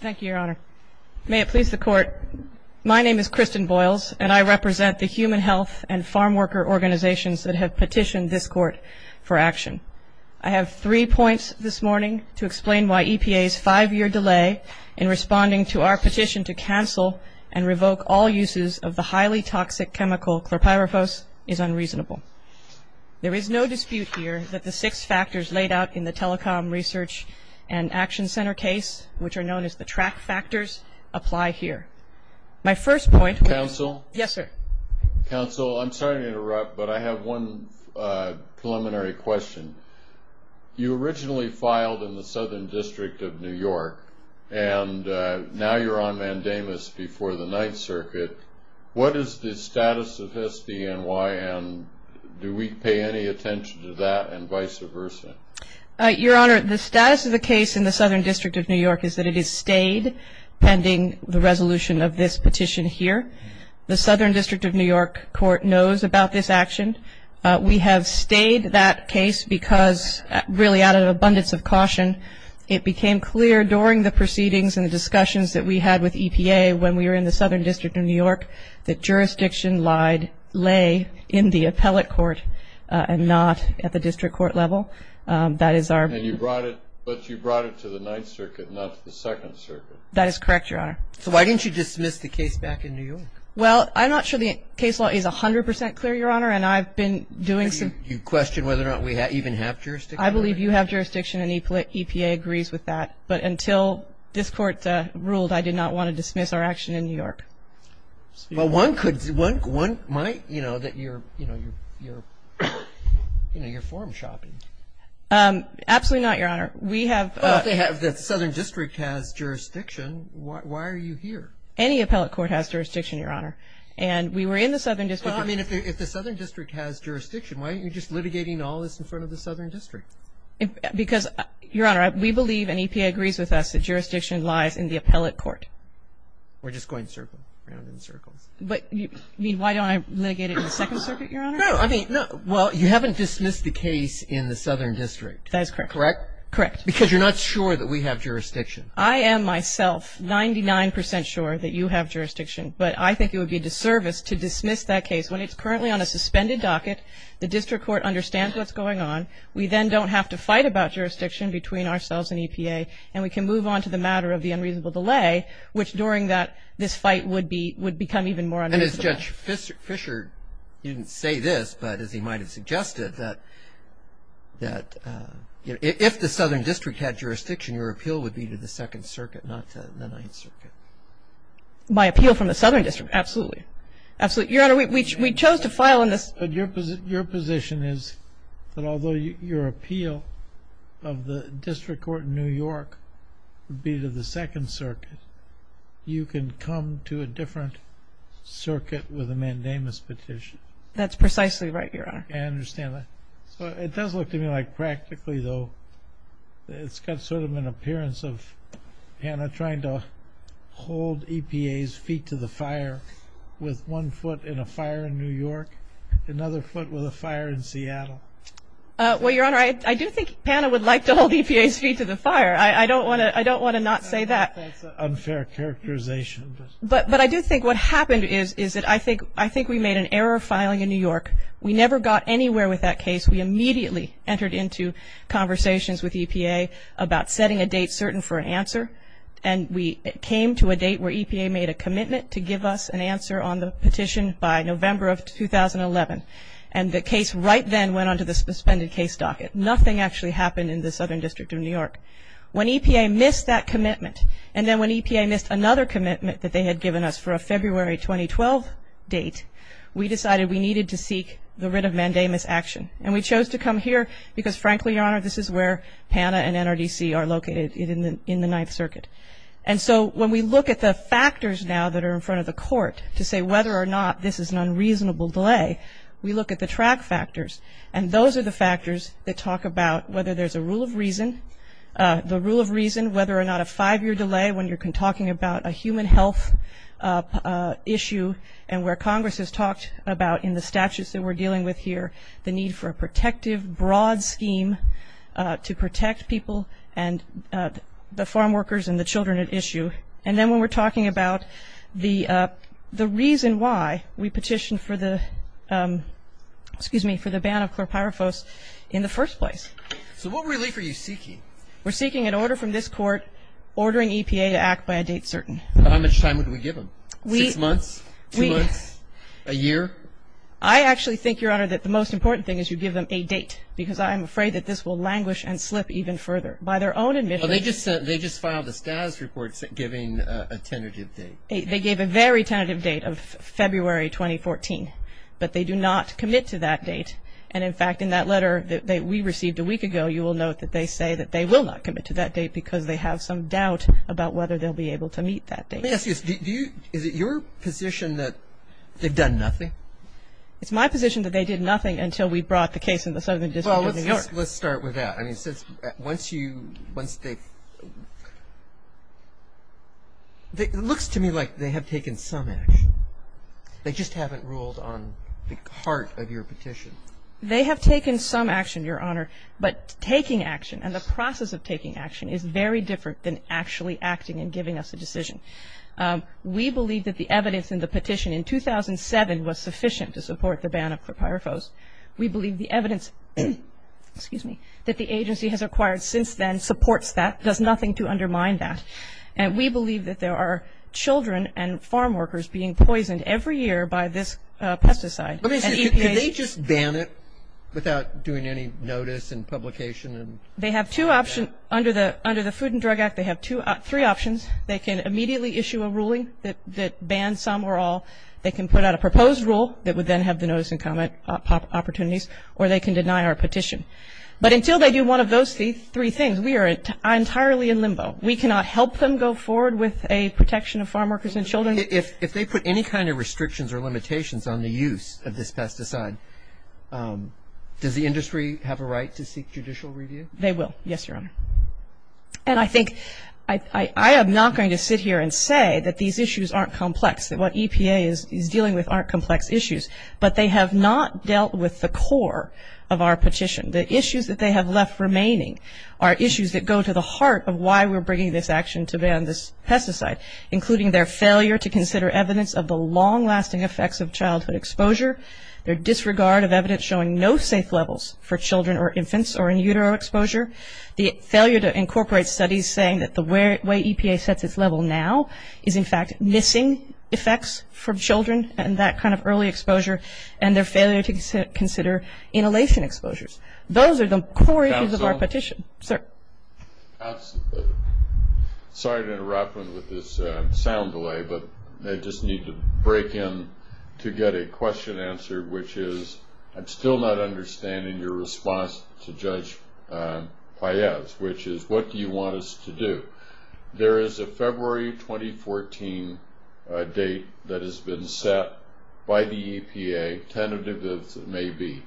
Thank you, Your Honor. May it please the Court, my name is Kristen Boyles and I represent the human health and farm worker organizations that have petitioned this Court for action. I have three points this morning to explain why EPA's five-year delay in responding to our petition to cancel and revoke all uses of the highly toxic chemical chlorpyrifos is unreasonable. There is no dispute here that the six factors laid out in the Telecom Research and Action Center case, which are known as the TRAC factors, apply here. My first point- Counsel? Yes, sir. Counsel, I'm sorry to interrupt, but I have one preliminary question. You originally filed in the Southern District of New York and now you're on mandamus before the Ninth Circuit. What is the status of SBNY and do we pay any attention to that and vice versa? Your Honor, the status of the case in the Southern District of New York is that it is stayed pending the resolution of this petition here. The Southern District of New York Court knows about this action. We have stayed that case because, really out of abundance of caution, it became clear during the proceedings and the discussions that we had with EPA when we were in the Southern District of New York that jurisdiction lied, lay in the appellate court and not at the district court level. That is our- And you brought it, but you brought it to the Ninth Circuit, not to the Second Circuit. That is correct, Your Honor. So why didn't you dismiss the case back in New York? Well, I'm not sure the case law is 100 percent clear, Your Honor, and I've been doing some- You question whether or not we even have jurisdiction? I believe you have jurisdiction and EPA agrees with that. But until this Court ruled, I did not want to dismiss our action in New York. Well, one could, one might, you know, that you're, you know, you're, you know, you're form-shopping. Absolutely not, Your Honor. We have- Well, if they have, if the Southern District has jurisdiction, why are you here? Any appellate court has jurisdiction, Your Honor. And we were in the Southern District- Okay, I mean, if the Southern District has jurisdiction, why aren't you just litigating all this in front of the Southern District? Because, Your Honor, we believe, and EPA agrees with us, that jurisdiction lies in the appellate court. We're just going circle, round in circles. But, I mean, why don't I litigate it in the Second Circuit, Your Honor? No, I mean, no, well, you haven't dismissed the case in the Southern District. That is correct. Correct? Correct. Because you're not sure that we have jurisdiction. I am myself 99 percent sure that you have jurisdiction, but I think it would be a disservice to dismiss that case when it's currently on a suspended docket, the district court understands what's going on, we then don't have to fight about jurisdiction between ourselves and EPA, and we can move on to the matter of the unreasonable delay, which during that, this fight would be, would become even more unreasonable. And as Judge Fischer didn't say this, but as he might have suggested, that, that, you know, if the Southern District had jurisdiction, your appeal would be to the Second Circuit, not to the Ninth Circuit. My appeal from the Southern District? Absolutely. Absolutely. Your Honor, we chose to file on this- Your position is that although your appeal of the district court in New York would be to the Second Circuit, you can come to a different circuit with a mandamus petition. That's precisely right, Your Honor. I understand that. So it does look to me like practically, though, it's got sort of an appearance of Hannah trying to hold EPA's feet to the fire with one foot in a fire in New York. Another foot with a fire in Seattle. Well, Your Honor, I do think Hannah would like to hold EPA's feet to the fire. I don't want to, I don't want to not say that. That's an unfair characterization. But I do think what happened is, is that I think, I think we made an error filing in New York. We never got anywhere with that case. We immediately entered into conversations with EPA about setting a date certain for an answer. And we came to a date where EPA made a commitment to give us an answer on the petition by November of 2011. And the case right then went onto the suspended case docket. Nothing actually happened in the Southern District of New York. When EPA missed that commitment, and then when EPA missed another commitment that they had given us for a February 2012 date, we decided we needed to seek the writ of mandamus action. And we chose to come here because, frankly, Your Honor, this is where Hannah and NRDC are located in the Ninth Circuit. And so when we look at the factors now that are in front of the court to say whether or not this is an unreasonable delay, we look at the track factors. And those are the factors that talk about whether there's a rule of reason, the rule of reason whether or not a five-year delay when you're talking about a human health issue and where Congress has talked about in the statutes that we're dealing with here, the need for a protective broad scheme to protect people and the farm workers and the children at issue. And then when we're talking about the reason why we petitioned for the ban of chlorpyrifos in the first place. So what relief are you seeking? We're seeking an order from this court ordering EPA to act by a date certain. How much time would we give them? Six months? Two months? A year? I actually think, Your Honor, that the most important thing is you give them a date because I'm afraid that this will languish and slip even further. By their own admission Well, they just filed a status report giving a tentative date. They gave a very tentative date of February 2014. But they do not commit to that date. And in fact, in that letter that we received a week ago, you will note that they say that they will not commit to that date because they have some doubt about whether they'll be able to meet that date. Let me ask you, is it your position that they've done nothing? It's my position that they did nothing until we brought the case in the Southern District of New York. Well, let's start with that. I mean, once you, once they, it looks to me like they have taken some action. They just haven't ruled on the heart of your petition. They have taken some action, Your Honor, but taking action and the process of taking action is very different than actually acting and giving us a decision. We believe that the evidence in the petition in 2007 was sufficient to support the ban of chlorpyrifos. We believe the evidence, excuse me, that the agency has acquired since then supports that, does nothing to undermine that. And we believe that there are children and farm workers being poisoned every year by this pesticide. Let me say, can they just ban it without doing any notice and publication? They have two options. Under the Food and Drug Act, they have three options. They can immediately issue a ruling that bans some or all. They can put out a proposed rule that would then have the notice and comment opportunities or they can deny our petition. But until they do one of those three things, we are entirely in limbo. We cannot help them go forward with a protection of farm workers and children. If they put any kind of restrictions or limitations on the use of this pesticide, does the industry have a right to seek judicial review? They will. Yes, Your Honor. And I think, I am not going to sit here and say that these are complex issues, but they have not dealt with the core of our petition. The issues that they have left remaining are issues that go to the heart of why we are bringing this action to ban this pesticide, including their failure to consider evidence of the long-lasting effects of childhood exposure, their disregard of evidence showing no safe levels for children or infants or in utero exposure, the failure to incorporate studies saying that the way for children and that kind of early exposure and their failure to consider inhalation exposures. Those are the core issues of our petition. Counsel, sorry to interrupt with this sound delay, but I just need to break in to get a question answered, which is, I am still not understanding your response to Judge Paez, which is, what do you want us to do? There is a February 2014 date that has been set by the EPA, tentative as it may be.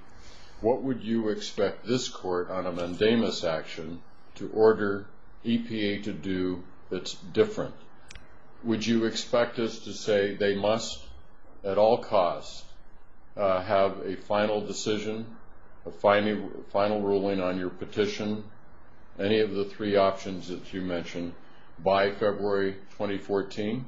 What would you expect this court on a mandamus action to order EPA to do that is different? Would you expect us to say they must, at all costs, have a final decision, a final ruling on your petition, any of the three options that you mentioned by February 2014?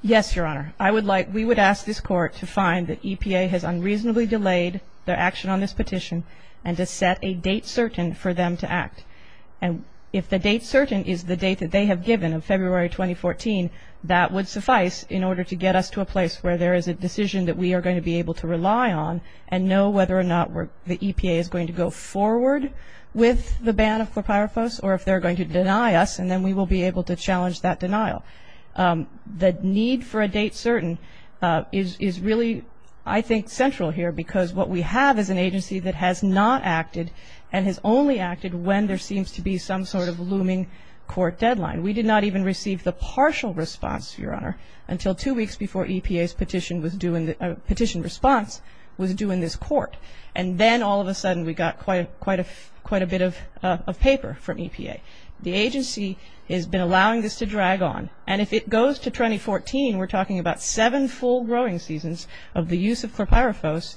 Yes, Your Honor. I would like, we would ask this court to find that EPA has unreasonably delayed their action on this petition and to set a date certain for them to act. And if the date certain is the date that they have given of February 2014, that would suffice in order to get us to a place where there is a decision that we are going to be able to rely on and know whether or not the EPA is going to go forward with the ban of clopyrifos or if they are going to deny us and then we will be able to challenge that denial. The need for a date certain is really, I think, central here because what we have is an agency that has not acted and has only acted when there seems to be some sort of looming court until two weeks before EPA's petition response was due in this court and then all of a sudden we got quite a bit of paper from EPA. The agency has been allowing this to drag on and if it goes to 2014, we are talking about seven full growing seasons of the use of clopyrifos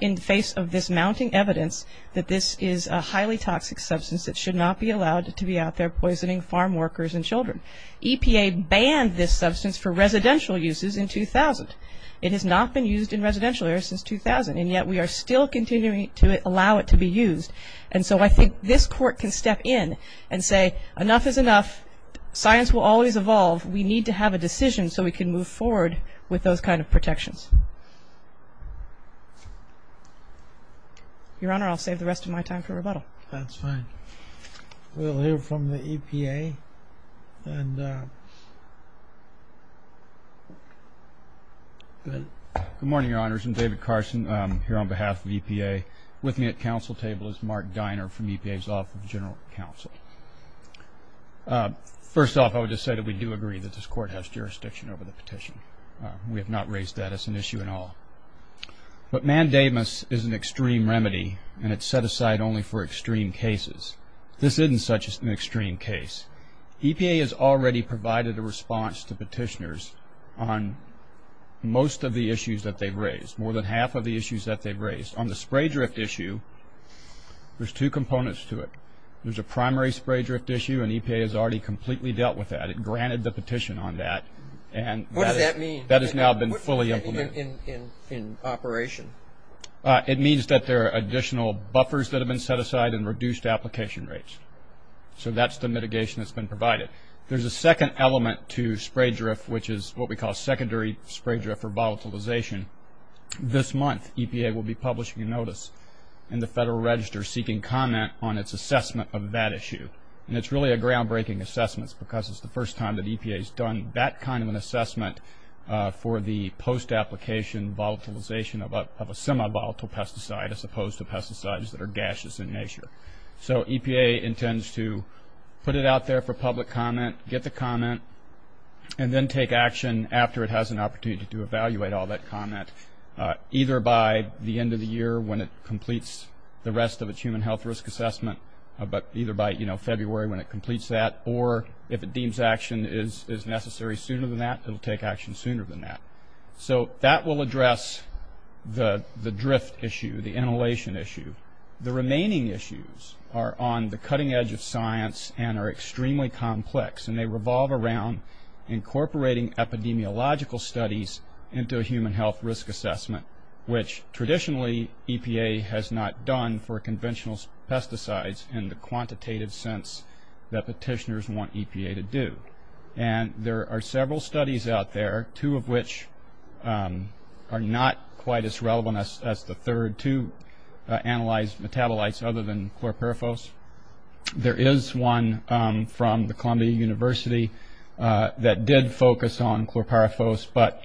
in the face of this mounting evidence that this is a highly toxic substance that should not be allowed to be out there poisoning farm workers and children. EPA banned this substance for residential uses in 2000. It has not been used in residential areas since 2000 and yet we are still continuing to allow it to be used and so I think this court can step in and say enough is enough, science will always evolve, we need to have a decision so we can move forward with those kind of protections. Your Honor, I will save the rest of my time for rebuttal. That's fine. We will hear from the EPA and... Good morning, Your Honors. I'm David Carson here on behalf of EPA. With me at counsel table is Mark Diner from EPA's Office of General Counsel. First off, I would just say that we do agree that this court has jurisdiction over the petition. We have not raised that as an issue at all. But mandamus is an extreme remedy and it's set aside only for extreme cases. This isn't such an extreme case. EPA has already provided a response to petitioners on most of the issues that they've raised, more than half of the issues that they've raised. On the spray drift issue, there's two components to it. There's a primary spray drift issue and EPA has already completely dealt with that. It granted the petition on that. What does that mean? That has now been fully implemented. In operation? It means that there are additional buffers that have been set aside and reduced application rates. So that's the mitigation that's been provided. There's a second element to spray drift, which is what we call secondary spray drift or volatilization. This month, EPA will be publishing a notice in the Federal Register seeking comment on its assessment of that issue. It's really a groundbreaking assessment because it's the first time that EPA has done that kind of an assessment for the post-application volatilization of a semi-volatile pesticide as opposed to pesticides that are gaseous in nature. So EPA intends to put it out there for public comment, get the comment, and then take action after it has an opportunity to evaluate all that comment, either by the end of the year when it completes the rest of its human health risk assessment, but either by February when it completes that, or if it deems action is necessary sooner than that, it will take action sooner than that. So that will address the drift issue, the inhalation issue. The remaining issues are on the cutting edge of science and are extremely complex. They revolve around incorporating epidemiological studies into a human health risk assessment, which traditionally EPA has not done for conventional pesticides in the quantitative sense that petitioners want EPA to do. There are several studies out there, two of which are not quite as relevant as the third to analyze metabolites other than chlorpyrifos. There is one from the Columbia University that did focus on chlorpyrifos, but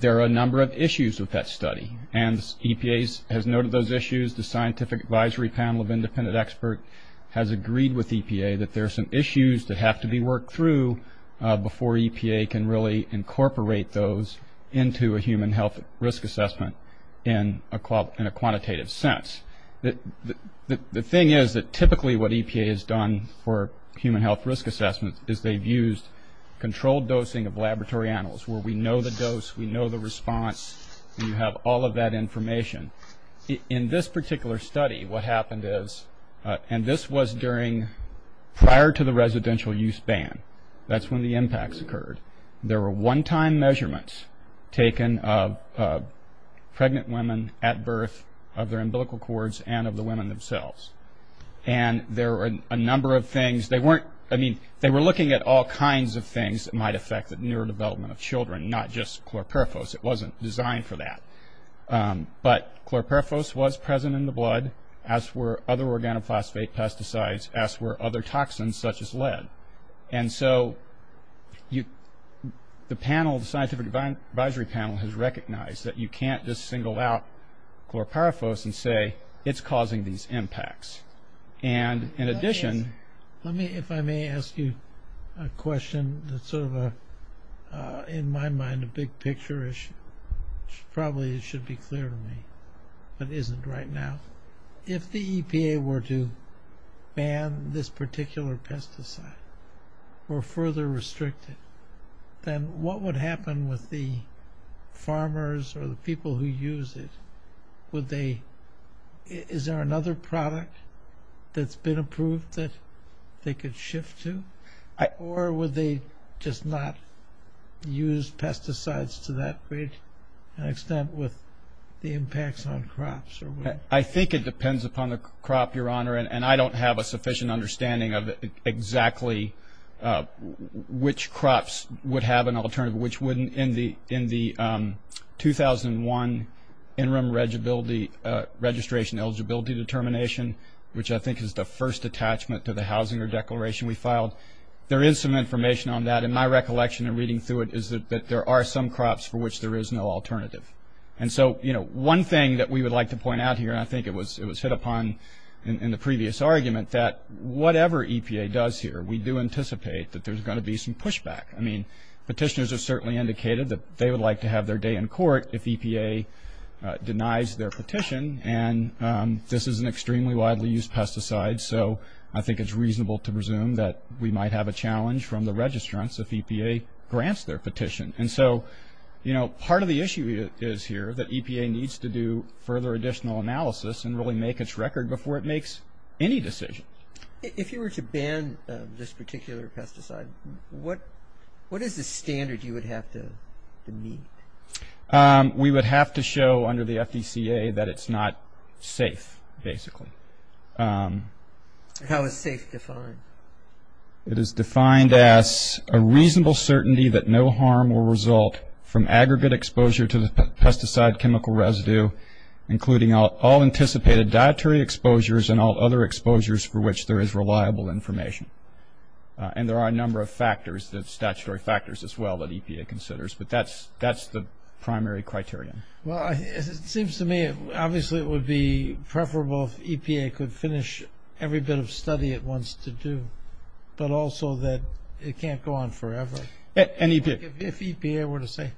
there are a number of issues with that study, and EPA has noted those issues. The Scientific Advisory Panel of Independent Experts has agreed with EPA that there are some issues that have to be worked through before EPA can really incorporate those into a human health risk assessment in a quantitative sense. The thing is that typically what EPA has done for human health risk assessment is they have used controlled dosing of laboratory animals where we know the dose, we know the response, and you have all of that information. In this particular study what happened is, and this was during prior to the residential use ban, that's when the impacts occurred. There were one-time measurements taken of pregnant women at birth of their umbilical cords and of the women themselves, and there were a number of things. They weren't, I mean, they were looking at all kinds of things that might affect the motor development of children, not just chlorpyrifos. It wasn't designed for that, but chlorpyrifos was present in the blood, as were other organophosphate pesticides, as were other toxins such as lead. The panel, the Scientific Advisory Panel, has recognized that you can't just single out chlorpyrifos and say it's causing these impacts. In addition- Let me, if I may ask you a question that's sort of a, in my mind, a big picture issue. Probably it should be clear to me, but isn't right now. If the EPA were to ban this particular pesticide or further restrict it, then what would happen with the farmers or the people who use it? Would they, is there another product that's been approved that they could shift to? Or would they just not use pesticides to that great an extent with the impacts on crops or would- I think it depends upon the crop, your honor, and I don't have a sufficient understanding of exactly which crops would have an alternative, which wouldn't. In the, in the, um, 2001 interim regibility, uh, registration eligibility determination, which I think is the first attachment to the housing or declaration we filed, there is some information on that. In my recollection and reading through it is that there are some crops for which there is no alternative. And so, you know, one thing that we would like to point out here, and I think it was, it was hit upon in the previous argument, that whatever EPA does here, we do anticipate that there's going to be some pushback. I mean, petitioners have certainly indicated that they would like to have their day in court if EPA denies their petition. And, um, this is an extremely widely used pesticide, so I think it's reasonable to presume that we might have a challenge from the registrants if EPA grants their petition. And so, you know, part of the issue is here that EPA needs to do further additional analysis and really make its record before it makes any decisions. If you were to ban this particular pesticide, what is the standard you would have to meet? We would have to show under the FDCA that it's not safe, basically. How is safe defined? It is defined as a reasonable certainty that no harm will result from aggregate exposure to the pesticide chemical residue, including all anticipated dietary exposures and all other exposures for which there is reliable information. And there are a number of factors, statutory factors as well, that EPA considers, but that's the primary criterion. Well, it seems to me, obviously it would be preferable if EPA could finish every bit of study it wants to do, but also that it can't go on forever. And EPA? If EPA were to say,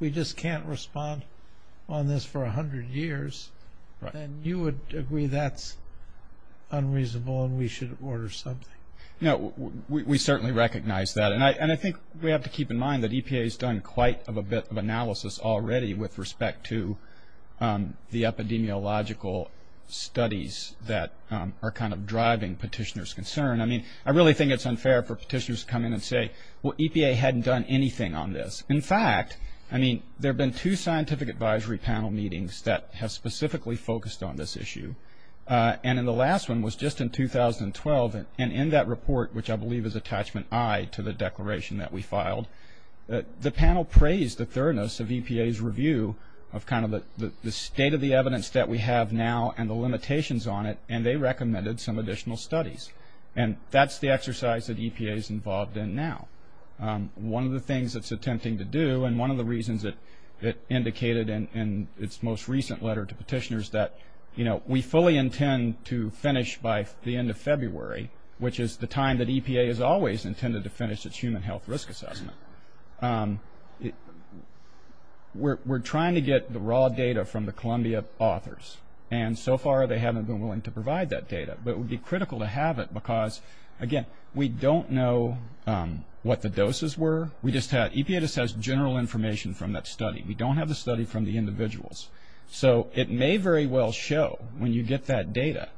we just can't respond on this for 100 years, then you would agree that's unreasonable and we should order something. No, we certainly recognize that. And I think we have to keep in mind that EPA has done quite a bit of analysis already with respect to the epidemiological studies that are kind of driving petitioner's concern. I mean, I really think it's unfair for petitioners to come in and say, well, EPA hadn't done anything on this. In fact, I mean, there have been two scientific advisory panel meetings that have specifically focused on this issue. And then the last one was just in 2012. And in that report, which I believe is attachment I to the declaration that we filed, the panel praised the thoroughness of EPA's review of kind of the state of the evidence that we have now and the limitations on it, and they recommended some additional studies. And that's the exercise that EPA is involved in now. One of the things it's attempting to do, and one of the reasons it indicated in its most recent letter to petitioners that, you know, we fully intend to finish by the end of February, which is the time that EPA has always intended to finish its human health risk assessment. We're trying to get the raw data from the Columbia authors. And so far, they haven't been willing to provide that data. But it would be critical to have it because, again, we don't know what the doses were. We just had, EPA just has general information from that study. We don't have the study from the individuals. So it may very well show, when you get that data,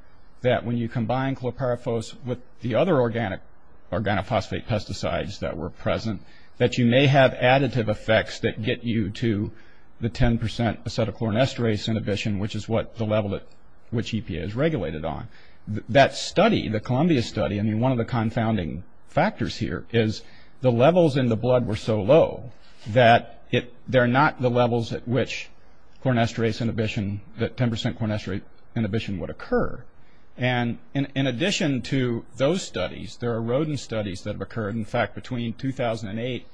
that when you combine chlorpyrifos with the other organic, organophosphate pesticides that were present, that you may have additive effects that get you to the 10 percent acetylchlorin esterase inhibition, which is what the level at which EPA is regulated on. That study, the Columbia study, I mean, one of the confounding factors here is the levels in the blood were so low that they're not the levels at which chlorinesterase inhibition, that 10 percent chlorinesterase inhibition would occur. And in addition to those studies, there are rodent studies that have occurred. In fact, between 2008,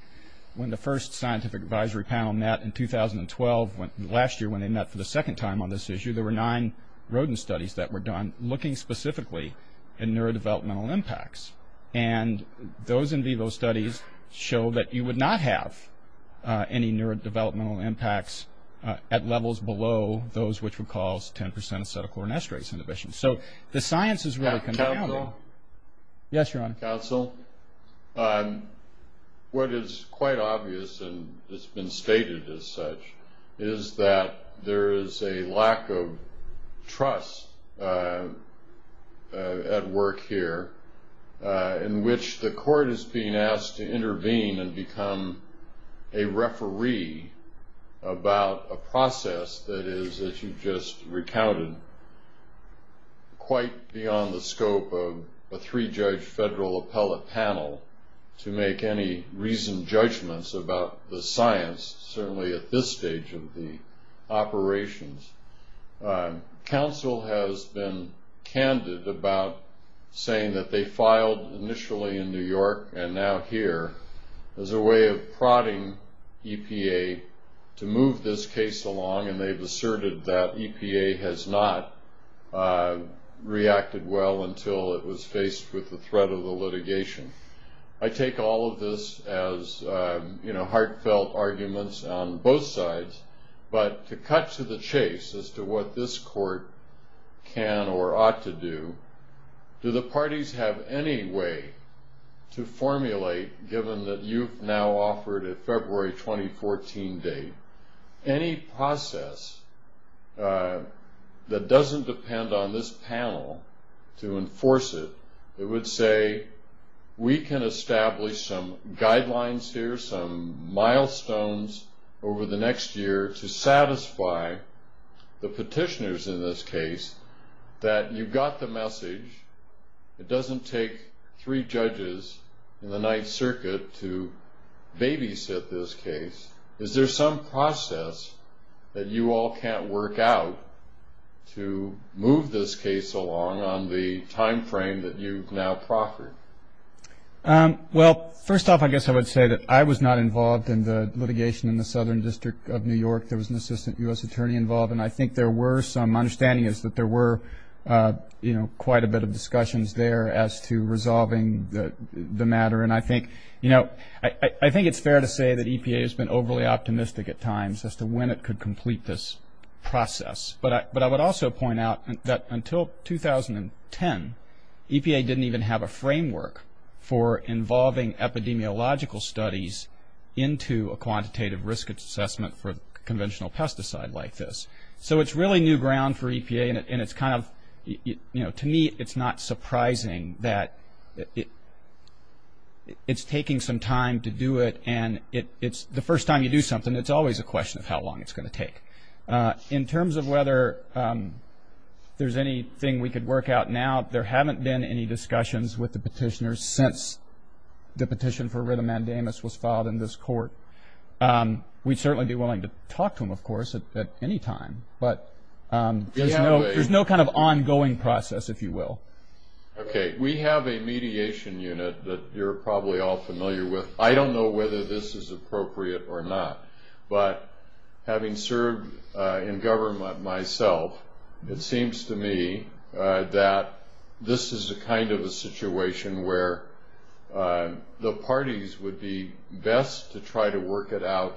when the first scientific advisory panel met, and 2012, last year when they met for the second time on this issue, there were nine rodent studies that were done looking specifically at neurodevelopmental impacts. And those in vivo studies show that you would not have any neurodevelopmental impacts at levels below those which would cause 10 percent acetylchlorinesterase inhibition. So the science is really confounding. Council? Yes, Your Honor. Counsel, what is quite obvious, and it's been stated as such, is that there is a lack of trust at work here in which the court is being asked to intervene and become a referee about a process that is, as you've just recounted, quite beyond the scope of a three-judge federal appellate panel to make any reasoned judgments about the science, certainly at this stage of the operations. Council has been candid about saying that they filed initially in New York and now here as a way of prodding EPA to move this case along, and they've asserted that EPA has not reacted well until it was faced with the threat of the litigation. I take all of this as heartfelt arguments on both sides, but to cut to the chase as to what this court can or ought to do, do the parties have any way to formulate, given that you've now offered a February 2014 date, any process that doesn't depend on this panel to enforce it? It would say, we can establish some guidelines here, some milestones over the next year to satisfy the petitioners in this case that you've got the message. It would say, is there some process that you all can't work out to move this case along on the time frame that you've now proffered? First off, I guess I would say that I was not involved in the litigation in the Southern District of New York. There was an assistant U.S. attorney involved, and I think there were some understandings that there were quite a bit of discussions there as to resolving the matter. I think it's fair to say that EPA has been overly optimistic at times as to when it could complete this process, but I would also point out that until 2010, EPA didn't even have a framework for involving epidemiological studies into a quantitative risk assessment for conventional pesticide like this. So it's really new ground for EPA, and it's kind of, to me, it's not surprising that it's taking some time to do it, and the first time you do something, it's always a question of how long it's going to take. In terms of whether there's anything we could work out now, there haven't been any discussions with the petitioners since the petition for it at any time, but there's no kind of ongoing process, if you will. We have a mediation unit that you're probably all familiar with. I don't know whether this is appropriate or not, but having served in government myself, it seems to me that this is a kind of a situation where the parties would be best to try to work it out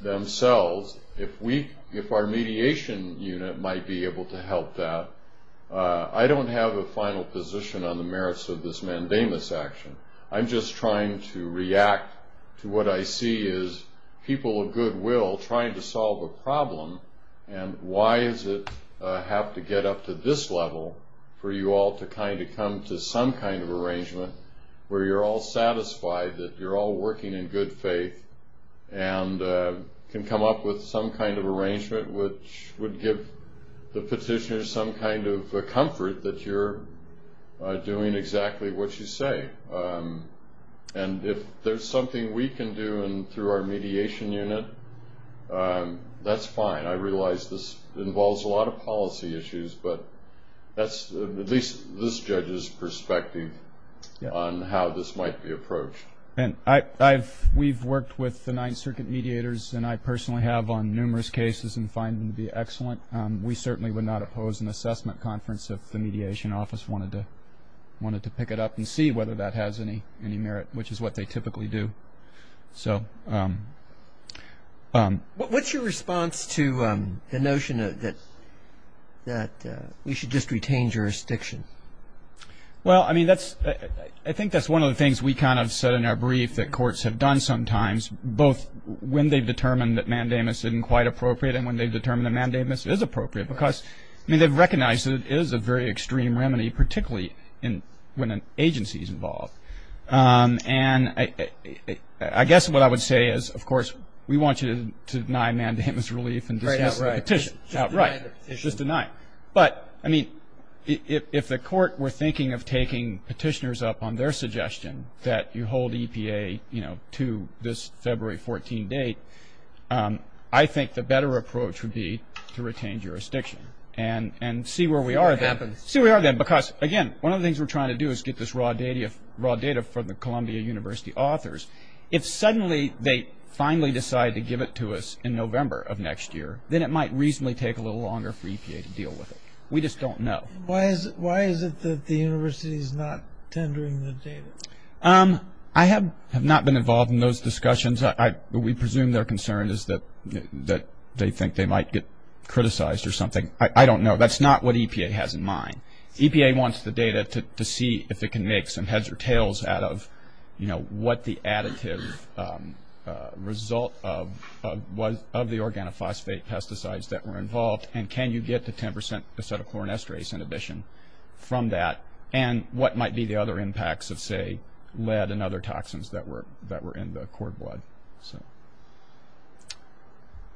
themselves if we, if our mediation unit might be able to help that. I don't have a final position on the merits of this mandamus action. I'm just trying to react to what I see as people of goodwill trying to solve a problem, and why does it have to get up to this level for you all to kind of come to some kind of arrangement where you're all satisfied that you're all some kind of arrangement which would give the petitioners some kind of comfort that you're doing exactly what you say. And if there's something we can do through our mediation unit, that's fine. I realize this involves a lot of policy issues, but that's at least this judge's perspective on how this might be approached. And I've, we've worked with the Ninth Circuit mediators, and I personally have on numerous cases and find them to be excellent. We certainly would not oppose an assessment conference if the mediation office wanted to, wanted to pick it up and see whether that has any, any merit, which is what they typically do. So, what's your response to the notion that we should just retain jurisdiction? Well, I mean, that's, I think that's one of the things we kind of said in our brief that courts have done sometimes, both when they've determined that mandamus isn't quite appropriate and when they've determined that mandamus is appropriate because, I mean, they've recognized that it is a very extreme remedy, particularly in, when an agency's involved. And I guess what I would say is, of course, we want you to deny mandamus relief and dismiss the petition. Right. Just deny the petition. Just deny. But, I mean, if the court were thinking of taking petitioners up on their suggestion that you hold EPA, you know, to this February 14 date, I think the better approach would be to retain jurisdiction and, and see where we are then. See what happens. See where we are then, because, again, one of the things we're trying to do is get this raw data, raw data from the Columbia University authors. If suddenly they finally decide to year, then it might reasonably take a little longer for EPA to deal with it. We just don't know. Why is it that the university is not tendering the data? I have not been involved in those discussions. We presume their concern is that they think they might get criticized or something. I don't know. That's not what EPA has in mind. EPA wants the data to see if it can make some heads or tails out of, you know, what the additive result of, of the organophosphate pesticides that were involved, and can you get the 10% acetylchlorinesterase inhibition from that, and what might be the other impacts of, say, lead and other toxins that were, that were in the cord blood, so.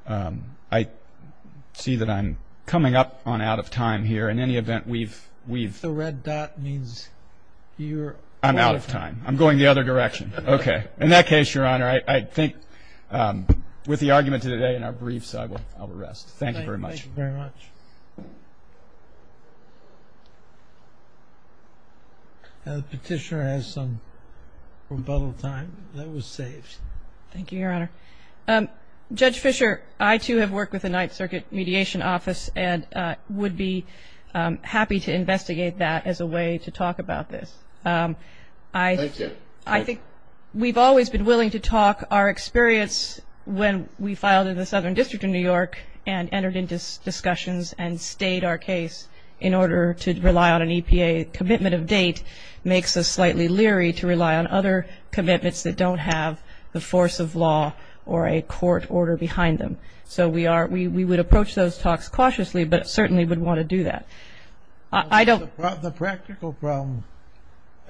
I see that I'm coming up on out of time here. In any event, we've, we've... The red dot means you're... I'm out of time. I'm going the other direction. Okay. In that case, Your Honor, I, I think with the argument to today and our briefs, I will, I will rest. Thank you very much. Thank you very much. The petitioner has some rebuttal time. That was saved. Thank you, Your Honor. Judge Fischer, I too have worked with the Ninth Circuit Mediation Office and would be happy to investigate that as a way to talk about this. I, I think we've always been willing to talk. Our experience when we filed in the Southern District of New York and entered into discussions and stayed our case in order to rely on an EPA commitment of date makes us slightly leery to rely on other commitments that don't have the force of law or a court order behind them. So we are, we, we would approach those talks cautiously, but certainly would want to do that. I don't... The practical problem,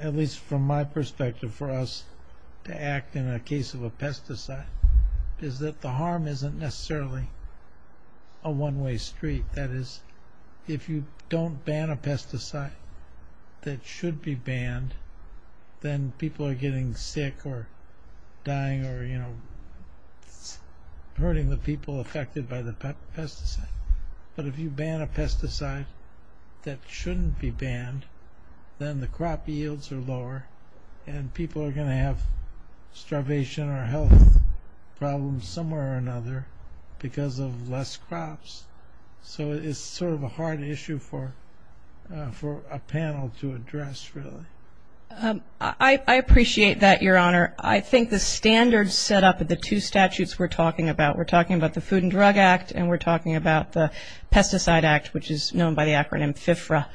at least from my perspective, for us to act in a case of a pesticide is that the harm isn't necessarily a one-way street. That is, if you don't ban a pesticide that should be banned, then people are getting sick or dying or, you know, hurting the people affected by the pesticide. But if you ban a pesticide that shouldn't be banned, then the crop yields are lower and people are going to have starvation or health problems somewhere or another because of less crops. So it's sort of a hard issue for, for a panel to address really. I appreciate that, Your Honor. I think the standards set up at the two statutes we're talking about, we're talking about the Food and Drug Act and we're talking about the Pesticide Act, which is known by the acronym FFRA.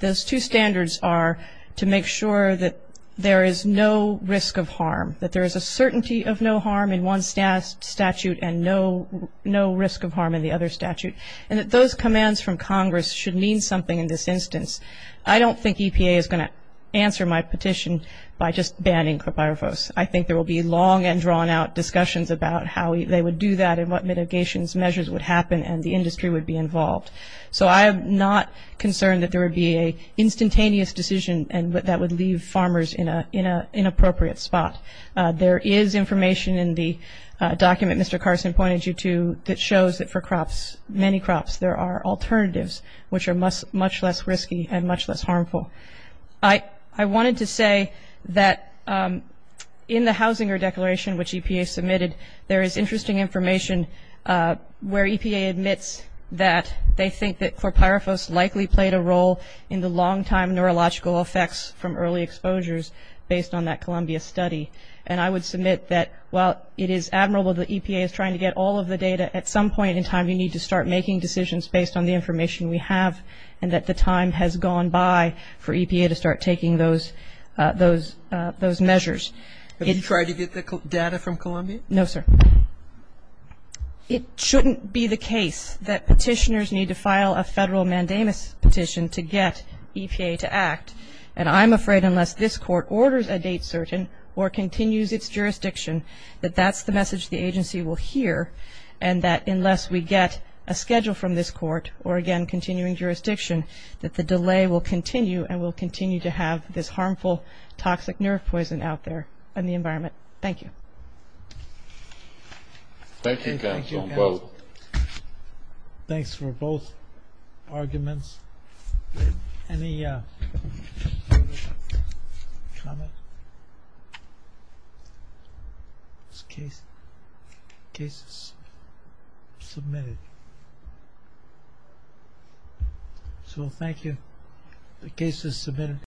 Those two standards are to make sure that there is no risk of harm, that there is a certainty of no harm in one statute and no, no risk of harm in the other statute. And that those commands from Congress should mean something in this instance. I don't think EPA is going to answer my petition by just banning crepirefos. I think there will be long and drawn-out discussions about how they would do that and what mitigations measures would happen and the industry would be involved. So I am not concerned that there in an inappropriate spot. There is information in the document Mr. Carson pointed you to that shows that for crops, many crops, there are alternatives which are much less risky and much less harmful. I wanted to say that in the Hausinger Declaration, which EPA submitted, there is interesting information where EPA admits that they think that crepirefos likely played a role in the study. And I would submit that while it is admirable that EPA is trying to get all of the data, at some point in time you need to start making decisions based on the information we have and that the time has gone by for EPA to start taking those measures. Have you tried to get the data from Columbia? No, sir. It shouldn't be the case that petitioners need to file a federal mandamus petition to get EPA to act. And I am afraid unless this Court orders a date certain or continues its jurisdiction that that is the message the agency will hear and that unless we get a schedule from this Court or, again, continuing jurisdiction, that the delay will continue and we will continue to have this harmful toxic nerve poison out there in the environment. Thank you. Thank you, counsel. Thank you, counsel. Thanks for both arguments. Any comments? Case is submitted. So thank you. The case is submitted.